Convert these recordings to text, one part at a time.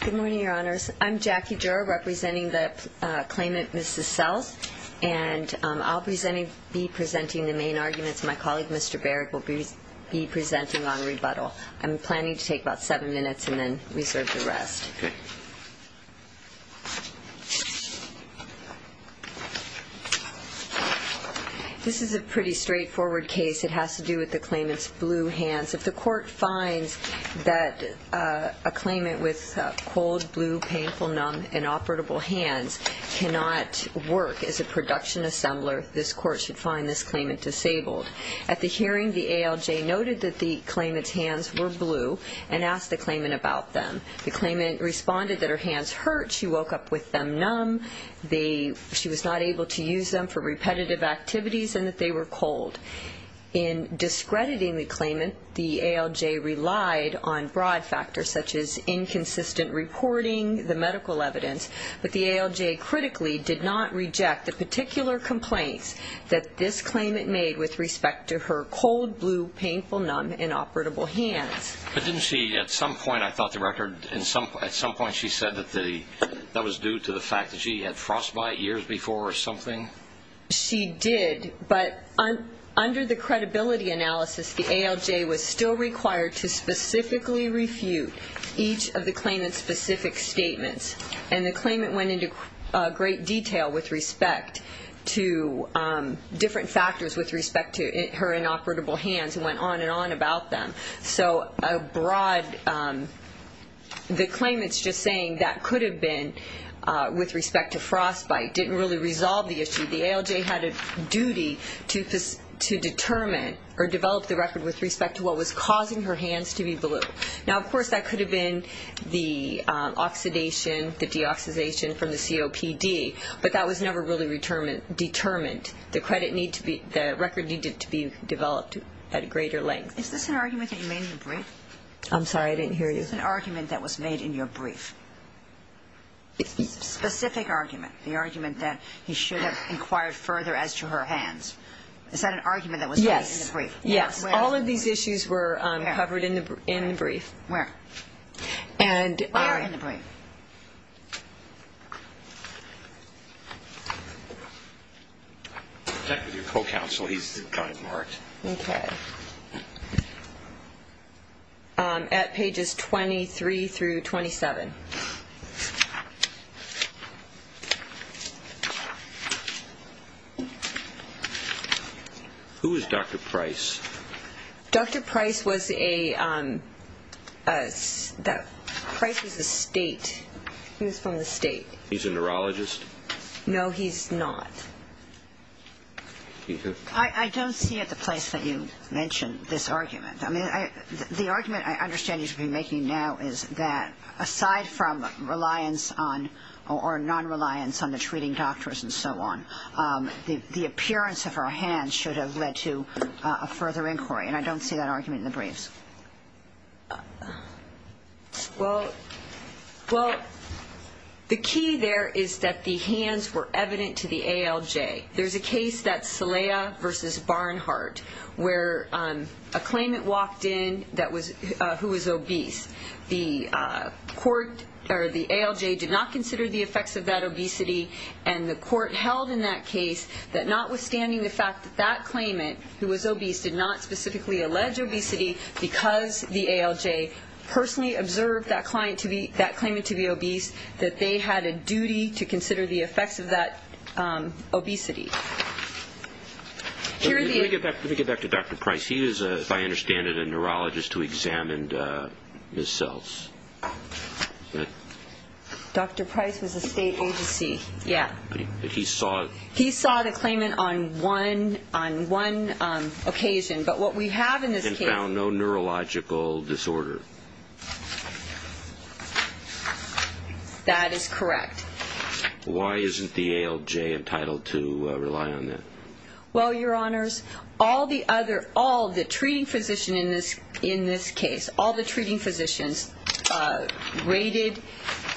Good morning, Your Honors. I'm Jackie Jura, representing the claimant, Mrs. Seltz. And I'll be presenting the main arguments. My colleague, Mr. Baird, will be presenting on rebuttal. I'm planning to take about seven minutes and then reserve the rest. This is a pretty straightforward case. It has to do with the claimant's blue hands. If the court finds that a claimant with cold, blue, painful, numb, and operable hands cannot work as a production assembler, this court should find this claimant disabled. At the hearing, the ALJ noted that the claimant's hands were blue and asked the claimant about them. The claimant responded that her hands hurt, she woke up with them numb, she was not able to use them for repetitive activities, and that they were cold. In discrediting the claimant, the ALJ relied on broad factors such as inconsistent reporting, the medical evidence, but the ALJ critically did not reject the particular complaints that this claimant made with respect to her cold, blue, painful, numb, and operable hands. But didn't she at some point, I thought the record, at some point she said that that was due to the fact that she had frostbite years before or something? She did, but under the credibility analysis, the ALJ was still required to specifically refute each of the claimant's specific statements. And the claimant went into great detail with respect to different factors with respect to her inoperable hands and went on and on about them. So a broad, the claimant's just saying that could have been with respect to frostbite, didn't really resolve the issue. The ALJ had a duty to determine or develop the record with respect to what was causing her hands to be blue. Now, of course, that could have been the oxidation, the deoxidation from the COPD, but that was never really determined. The record needed to be developed at greater length. Is this an argument that you made in your brief? I'm sorry, I didn't hear you. Is this an argument that was made in your brief? Specific argument, the argument that he should have inquired further as to her hands. Is that an argument that was made in the brief? Yes, all of these issues were covered in the brief. Where? They are in the brief. Okay. Check with your co-counsel, he's kind of marked. Okay. At pages 23 through 27. Who is Dr. Price? Dr. Price was a state, he was from the state. He's a neurologist? No, he's not. I don't see it the place that you mentioned this argument. I mean, the argument I understand you should be making now is that aside from reliance on or non-reliance on the treating doctors and so on, the appearance of her hands should have led to a further inquiry. And I don't see that argument in the briefs. Well, the key there is that the hands were evident to the ALJ. There's a case that's Saleha v. Barnhart where a claimant walked in who was obese. The ALJ did not consider the effects of that obesity. And the court held in that case that notwithstanding the fact that that claimant who was obese did not specifically allege obesity because the ALJ personally observed that claimant to be obese, that they had a duty to consider the effects of that obesity. Let me get back to Dr. Price. He is, if I understand it, a neurologist who examined his cells. Dr. Price was a state agency. Yeah. But he saw it. He saw the claimant on one occasion. But what we have in this case. And found no neurological disorder. That is correct. Why isn't the ALJ entitled to rely on that? Well, Your Honors, all the treating physicians in this case, all the treating physicians rated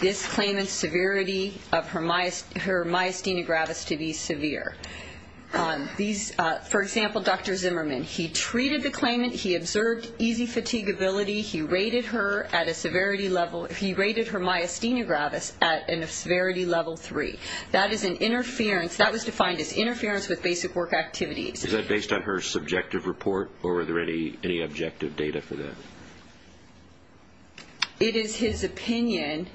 this claimant's severity of her myasthenia gravis to be severe. For example, Dr. Zimmerman. He treated the claimant. He observed easy fatigability. He rated her myasthenia gravis at a severity level three. That is an interference. That was defined as interference with basic work activities. Is that based on her subjective report? Or were there any objective data for that? It is his opinion.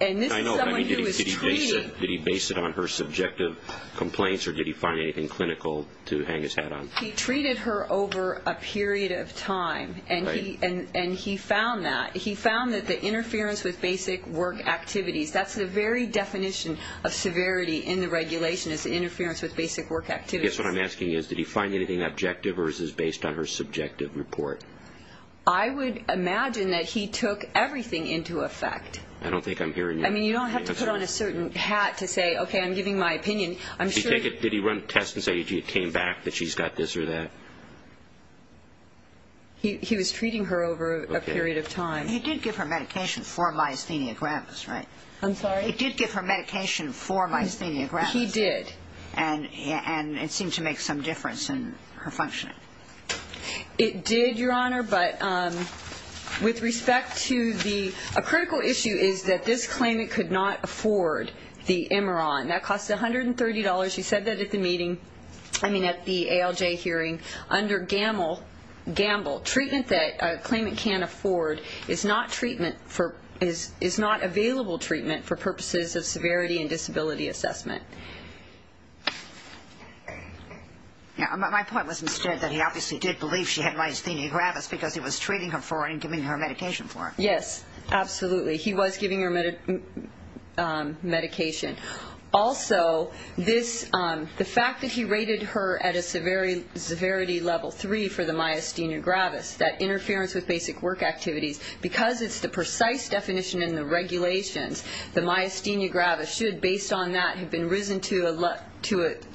And this is someone who was treating. Did he base it on her subjective complaints? Or did he find anything clinical to hang his hat on? He treated her over a period of time. And he found that. He found that the interference with basic work activities, that's the very definition of severity in the regulation, is interference with basic work activities. I guess what I'm asking is, did he find anything objective, or is this based on her subjective report? I would imagine that he took everything into effect. I don't think I'm hearing that. I mean, you don't have to put on a certain hat to say, okay, I'm giving my opinion. Did he run tests and say, gee, it came back that she's got this or that? He was treating her over a period of time. He did give her medication for myasthenia gravis, right? I'm sorry? He did give her medication for myasthenia gravis. He did. And it seemed to make some difference in her functioning. It did, Your Honor, but with respect to the ñ a critical issue is that this claimant could not afford the Imiron. That costs $130. He said that at the meeting, I mean at the ALJ hearing. Under Gamble, treatment that a claimant can't afford is not treatment for ñ is not available treatment for purposes of severity and disability assessment. My point was instead that he obviously did believe she had myasthenia gravis because he was treating her for it and giving her medication for it. Yes, absolutely. He was giving her medication. Also, the fact that he rated her at a severity level 3 for the myasthenia gravis, that interference with basic work activities, because it's the precise definition in the regulations, the myasthenia gravis should, based on that, have been risen to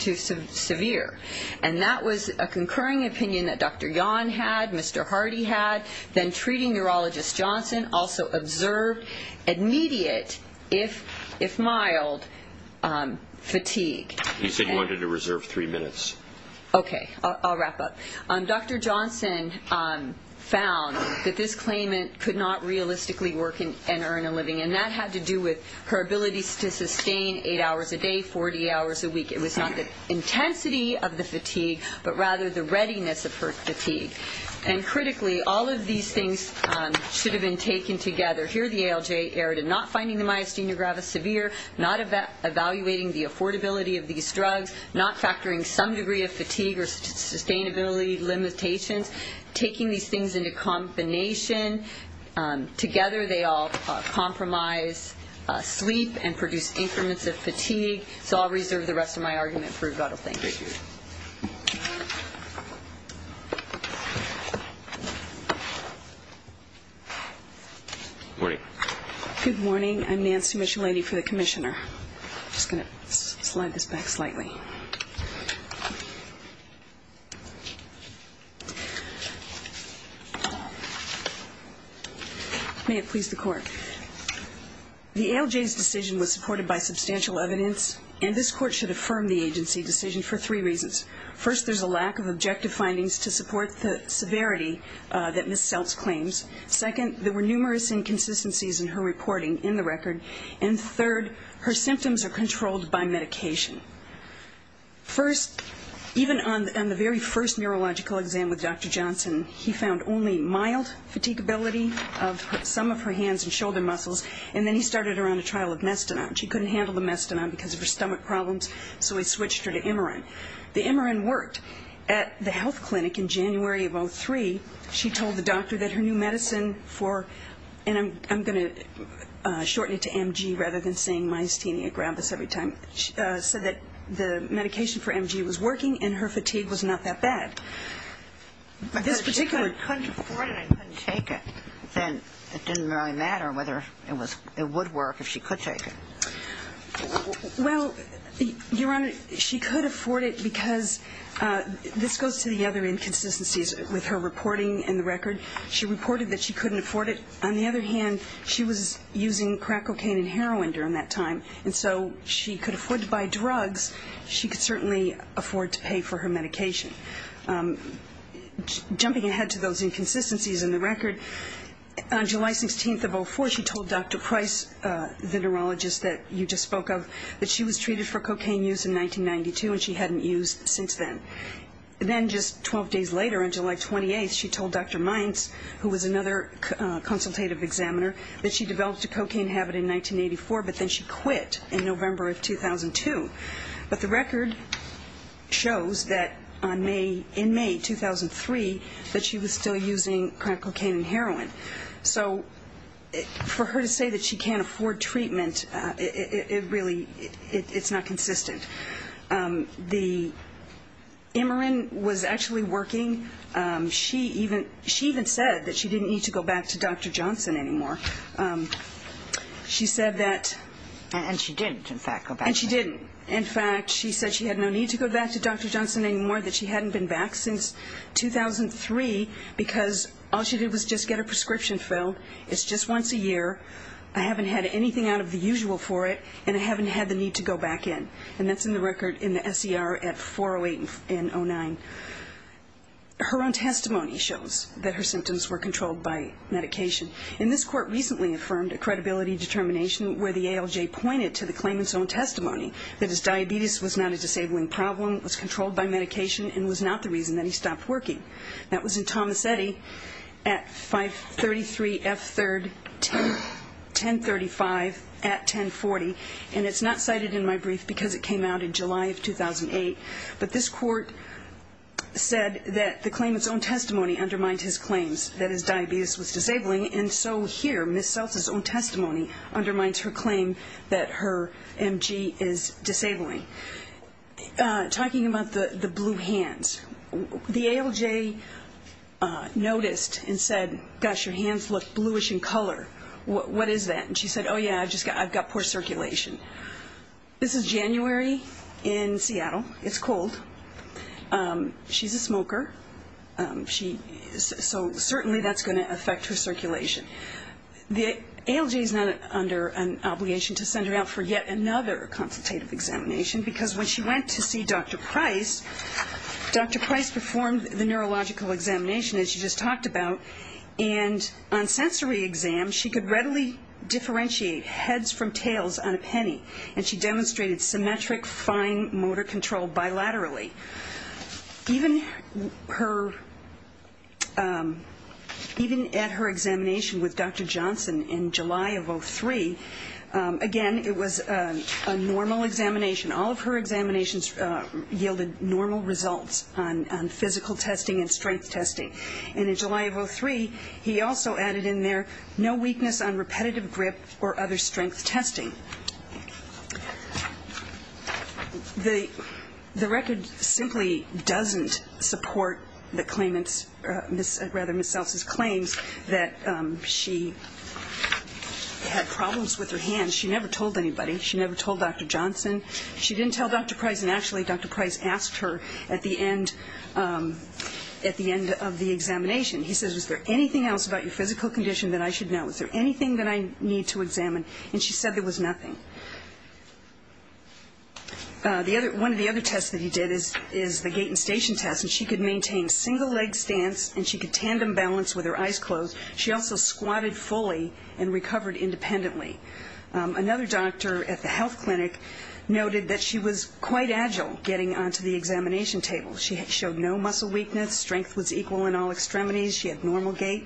severe. And that was a concurring opinion that Dr. Yahn had, Mr. Hardy had. Then treating neurologist Johnson also observed immediate, if mild, fatigue. You said you wanted to reserve three minutes. Okay, I'll wrap up. Dr. Johnson found that this claimant could not realistically work and earn a living, and that had to do with her ability to sustain eight hours a day, 40 hours a week. It was not the intensity of the fatigue, but rather the readiness of her fatigue. And critically, all of these things should have been taken together. Here the ALJ erred in not finding the myasthenia gravis severe, not evaluating the affordability of these drugs, not factoring some degree of fatigue or sustainability limitations, taking these things into combination. So I'll reserve the rest of my argument for Regardle. Thank you. Good morning. Good morning. I'm Nancy Michelletti for the commissioner. I'm just going to slide this back slightly. May it please the Court. The ALJ's decision was supported by substantial evidence, and this Court should affirm the agency decision for three reasons. First, there's a lack of objective findings to support the severity that Ms. Seltz claims. Second, there were numerous inconsistencies in her reporting in the record. And third, her symptoms are controlled by medication. First, even on the very first neurological exam with Dr. Johnson, he found only mild fatigability of some of her hands and shoulder muscles, and then he started her on a trial of mestinon. She couldn't handle the mestinon because of her stomach problems, so he switched her to Imarin. The Imarin worked at the health clinic in January of 2003. She told the doctor that her new medicine for, and I'm going to shorten it to MG rather than saying myasthenia gravis every time, said that the medication for MG was working and her fatigue was not that bad. If I couldn't afford it and I couldn't take it, then it didn't really matter whether it would work if she could take it. Well, Your Honor, she could afford it because this goes to the other inconsistencies with her reporting in the record. She reported that she couldn't afford it. On the other hand, she was using crack cocaine and heroin during that time, and so she could afford to buy drugs. She could certainly afford to pay for her medication. Jumping ahead to those inconsistencies in the record, on July 16th of 04, she told Dr. Price, the neurologist that you just spoke of, that she was treated for cocaine use in 1992 and she hadn't used since then. Then just 12 days later, on July 28th, she told Dr. Mines, who was another consultative examiner, that she developed a cocaine habit in 1984, but then she quit in November of 2002. But the record shows that on May, in May 2003, that she was still using crack cocaine and heroin. So for her to say that she can't afford treatment, it really, it's not consistent. The Imarin was actually working. She even said that she didn't need to go back to Dr. Johnson anymore. She said that... And she didn't, in fact, go back. And she didn't. In fact, she said she had no need to go back to Dr. Johnson anymore, that she hadn't been back since 2003, because all she did was just get her prescription filled. It's just once a year. I haven't had anything out of the usual for it, and I haven't had the need to go back in. And that's in the record in the SER at 408 and 09. Her own testimony shows that her symptoms were controlled by medication. And this court recently affirmed a credibility determination where the ALJ pointed to the claimant's own testimony, that his diabetes was not a disabling problem, was controlled by medication, and was not the reason that he stopped working. That was in Thomas Eddy at 533 F. 3rd, 1035 at 1040. And it's not cited in my brief because it came out in July of 2008. But this court said that the claimant's own testimony undermined his claims, that his diabetes was disabling, and so here Ms. Seltz's own testimony undermines her claim that her MG is disabling. Talking about the blue hands, the ALJ noticed and said, gosh, your hands look bluish in color. What is that? And she said, oh, yeah, I've got poor circulation. This is January in Seattle. It's cold. She's a smoker. So certainly that's going to affect her circulation. The ALJ is not under an obligation to send her out for yet another consultative examination because when she went to see Dr. Price, Dr. Price performed the neurological examination that she just talked about, and on sensory exam she could readily differentiate heads from tails on a penny, and she demonstrated symmetric, fine motor control bilaterally. Even at her examination with Dr. Johnson in July of 2003, again, it was a normal examination. All of her examinations yielded normal results on physical testing and strength testing. And in July of 2003, he also added in there no weakness on repetitive grip or other strength testing. The record simply doesn't support the claimant's, rather, Ms. Seltz's claims that she had problems with her hands. She never told anybody. She never told Dr. Johnson. She didn't tell Dr. Price, and actually Dr. Price asked her at the end of the examination, he says, is there anything else about your physical condition that I should know? Is there anything that I need to examine? And she said there was nothing. One of the other tests that he did is the gait and station test, and she could maintain single leg stance and she could tandem balance with her eyes closed. She also squatted fully and recovered independently. Another doctor at the health clinic noted that she was quite agile getting onto the examination table. She showed no muscle weakness. Strength was equal in all extremities. She had normal gait.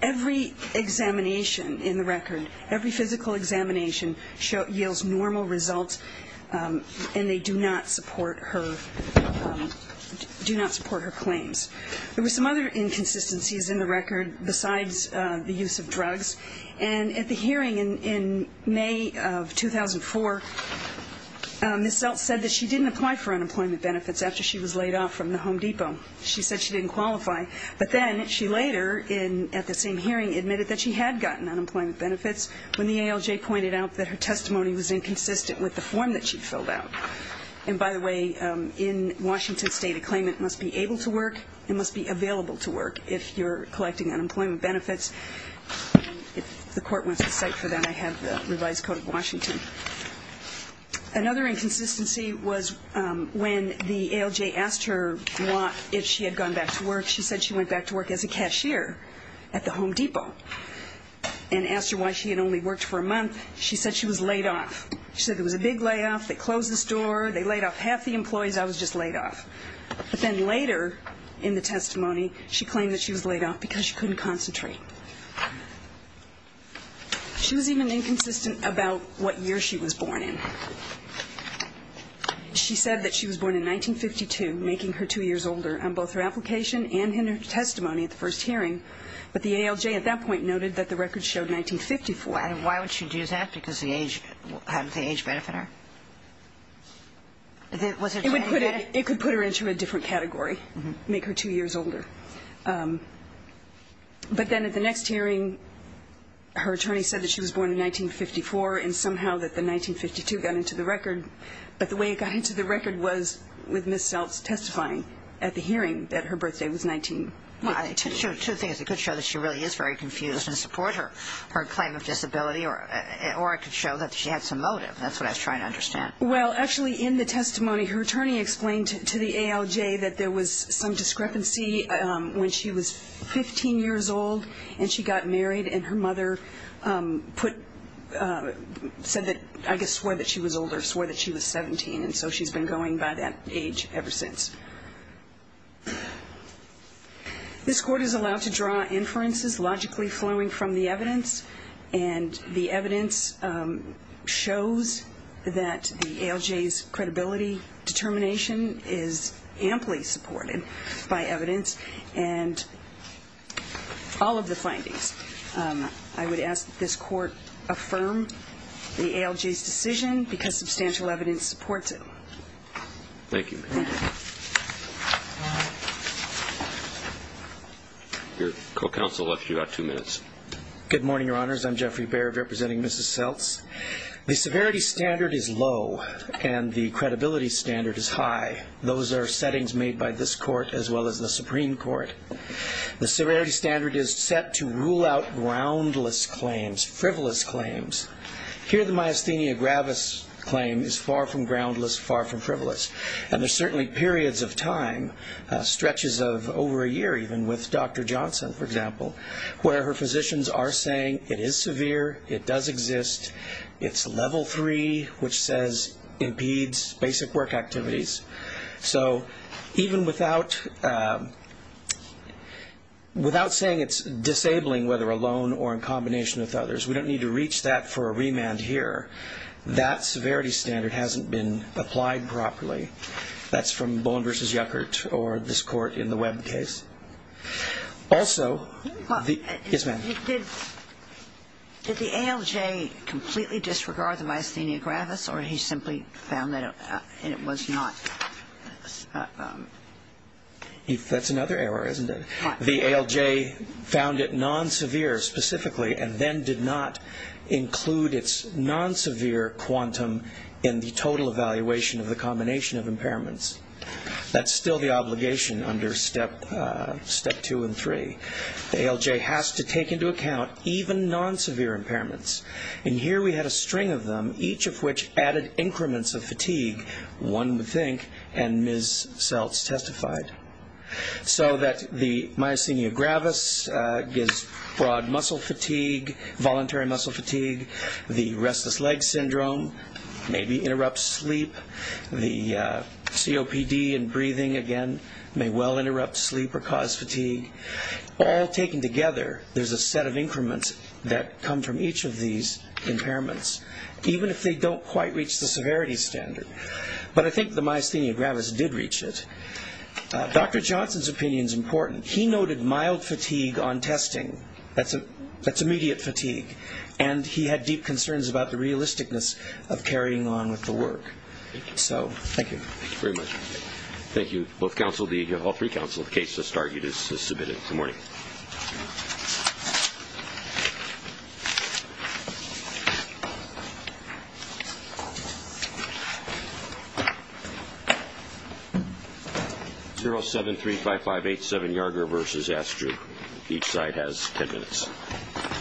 Every examination in the record, every physical examination yields normal results, and they do not support her claims. There were some other inconsistencies in the record besides the use of drugs, and at the hearing in May of 2004, Ms. Seltz said that she didn't apply for unemployment benefits after she was laid off from the Home Depot. She said she didn't qualify, but then she later, at the same hearing, admitted that she had gotten unemployment benefits when the ALJ pointed out that her testimony was inconsistent with the form that she filled out. And by the way, in Washington State, a claimant must be able to work and must be available to work if you're collecting unemployment benefits. If the court wants to cite for that, I have the revised code of Washington. Another inconsistency was when the ALJ asked her if she had gone back to work. She said she went back to work as a cashier at the Home Depot and asked her why she had only worked for a month. She said she was laid off. She said there was a big layoff. They closed the store. They laid off half the employees. I was just laid off. But then later in the testimony, she claimed that she was laid off because she couldn't concentrate. She was even inconsistent about what year she was born in. She said that she was born in 1952, making her two years older on both her application and in her testimony at the first hearing. But the ALJ at that point noted that the record showed 1954. And why would she do that? Because the age, how did the age benefit her? It could put her into a different category, make her two years older. But then at the next hearing, her attorney said that she was born in 1954 and somehow that the 1952 got into the record. But the way it got into the record was with Ms. Seltz testifying at the hearing that her birthday was 1952. Well, two things. It could show that she really is very confused and support her claim of disability, or it could show that she had some motive. That's what I was trying to understand. Well, actually, in the testimony, her attorney explained to the ALJ that there was some discrepancy when she was 15 years old and she got married and her mother said that, I guess, swore that she was older, swore that she was 17, and so she's been going by that age ever since. This court is allowed to draw inferences logically flowing from the evidence, and the evidence shows that the ALJ's credibility determination is amply supported by evidence. And all of the findings, I would ask that this court affirm the ALJ's decision because substantial evidence supports it. Thank you. Your co-counsel left you about two minutes. Good morning, Your Honors. I'm Jeffrey Baird representing Mrs. Seltz. The severity standard is low and the credibility standard is high. Those are settings made by this court as well as the Supreme Court. The severity standard is set to rule out groundless claims, frivolous claims. Here the myasthenia gravis claim is far from groundless, far from frivolous, and there's certainly periods of time, stretches of over a year even, with Dr. Johnson, for example, where her physicians are saying it is severe, it does exist, it's level three, which says impedes basic work activities. So even without saying it's disabling, whether alone or in combination with others, we don't need to reach that for a remand here. That severity standard hasn't been applied properly. That's from Boland v. Yuckert or this court in the Webb case. Also, yes, ma'am. Did the ALJ completely disregard the myasthenia gravis or he simply found that it was not? That's another error, isn't it? The ALJ found it non-severe specifically and then did not include its non-severe quantum in the total evaluation of the combination of impairments. That's still the obligation under step two and three. The ALJ has to take into account even non-severe impairments. And here we had a string of them, each of which added increments of fatigue, one would think, and Ms. Seltz testified. So that the myasthenia gravis gives broad muscle fatigue, voluntary muscle fatigue, the restless leg syndrome maybe interrupts sleep, the COPD and breathing, again, may well interrupt sleep or cause fatigue. All taken together, there's a set of increments that come from each of these impairments, even if they don't quite reach the severity standard. But I think the myasthenia gravis did reach it. Dr. Johnson's opinion is important. He noted mild fatigue on testing. That's immediate fatigue. And he had deep concerns about the realisticness of carrying on with the work. So thank you. Thank you very much. Thank you both counsel, all three counsel. The case has started. It is submitted. Good morning. 0735587 Yarger v. Astrid. Each side has ten minutes. Thank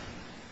you.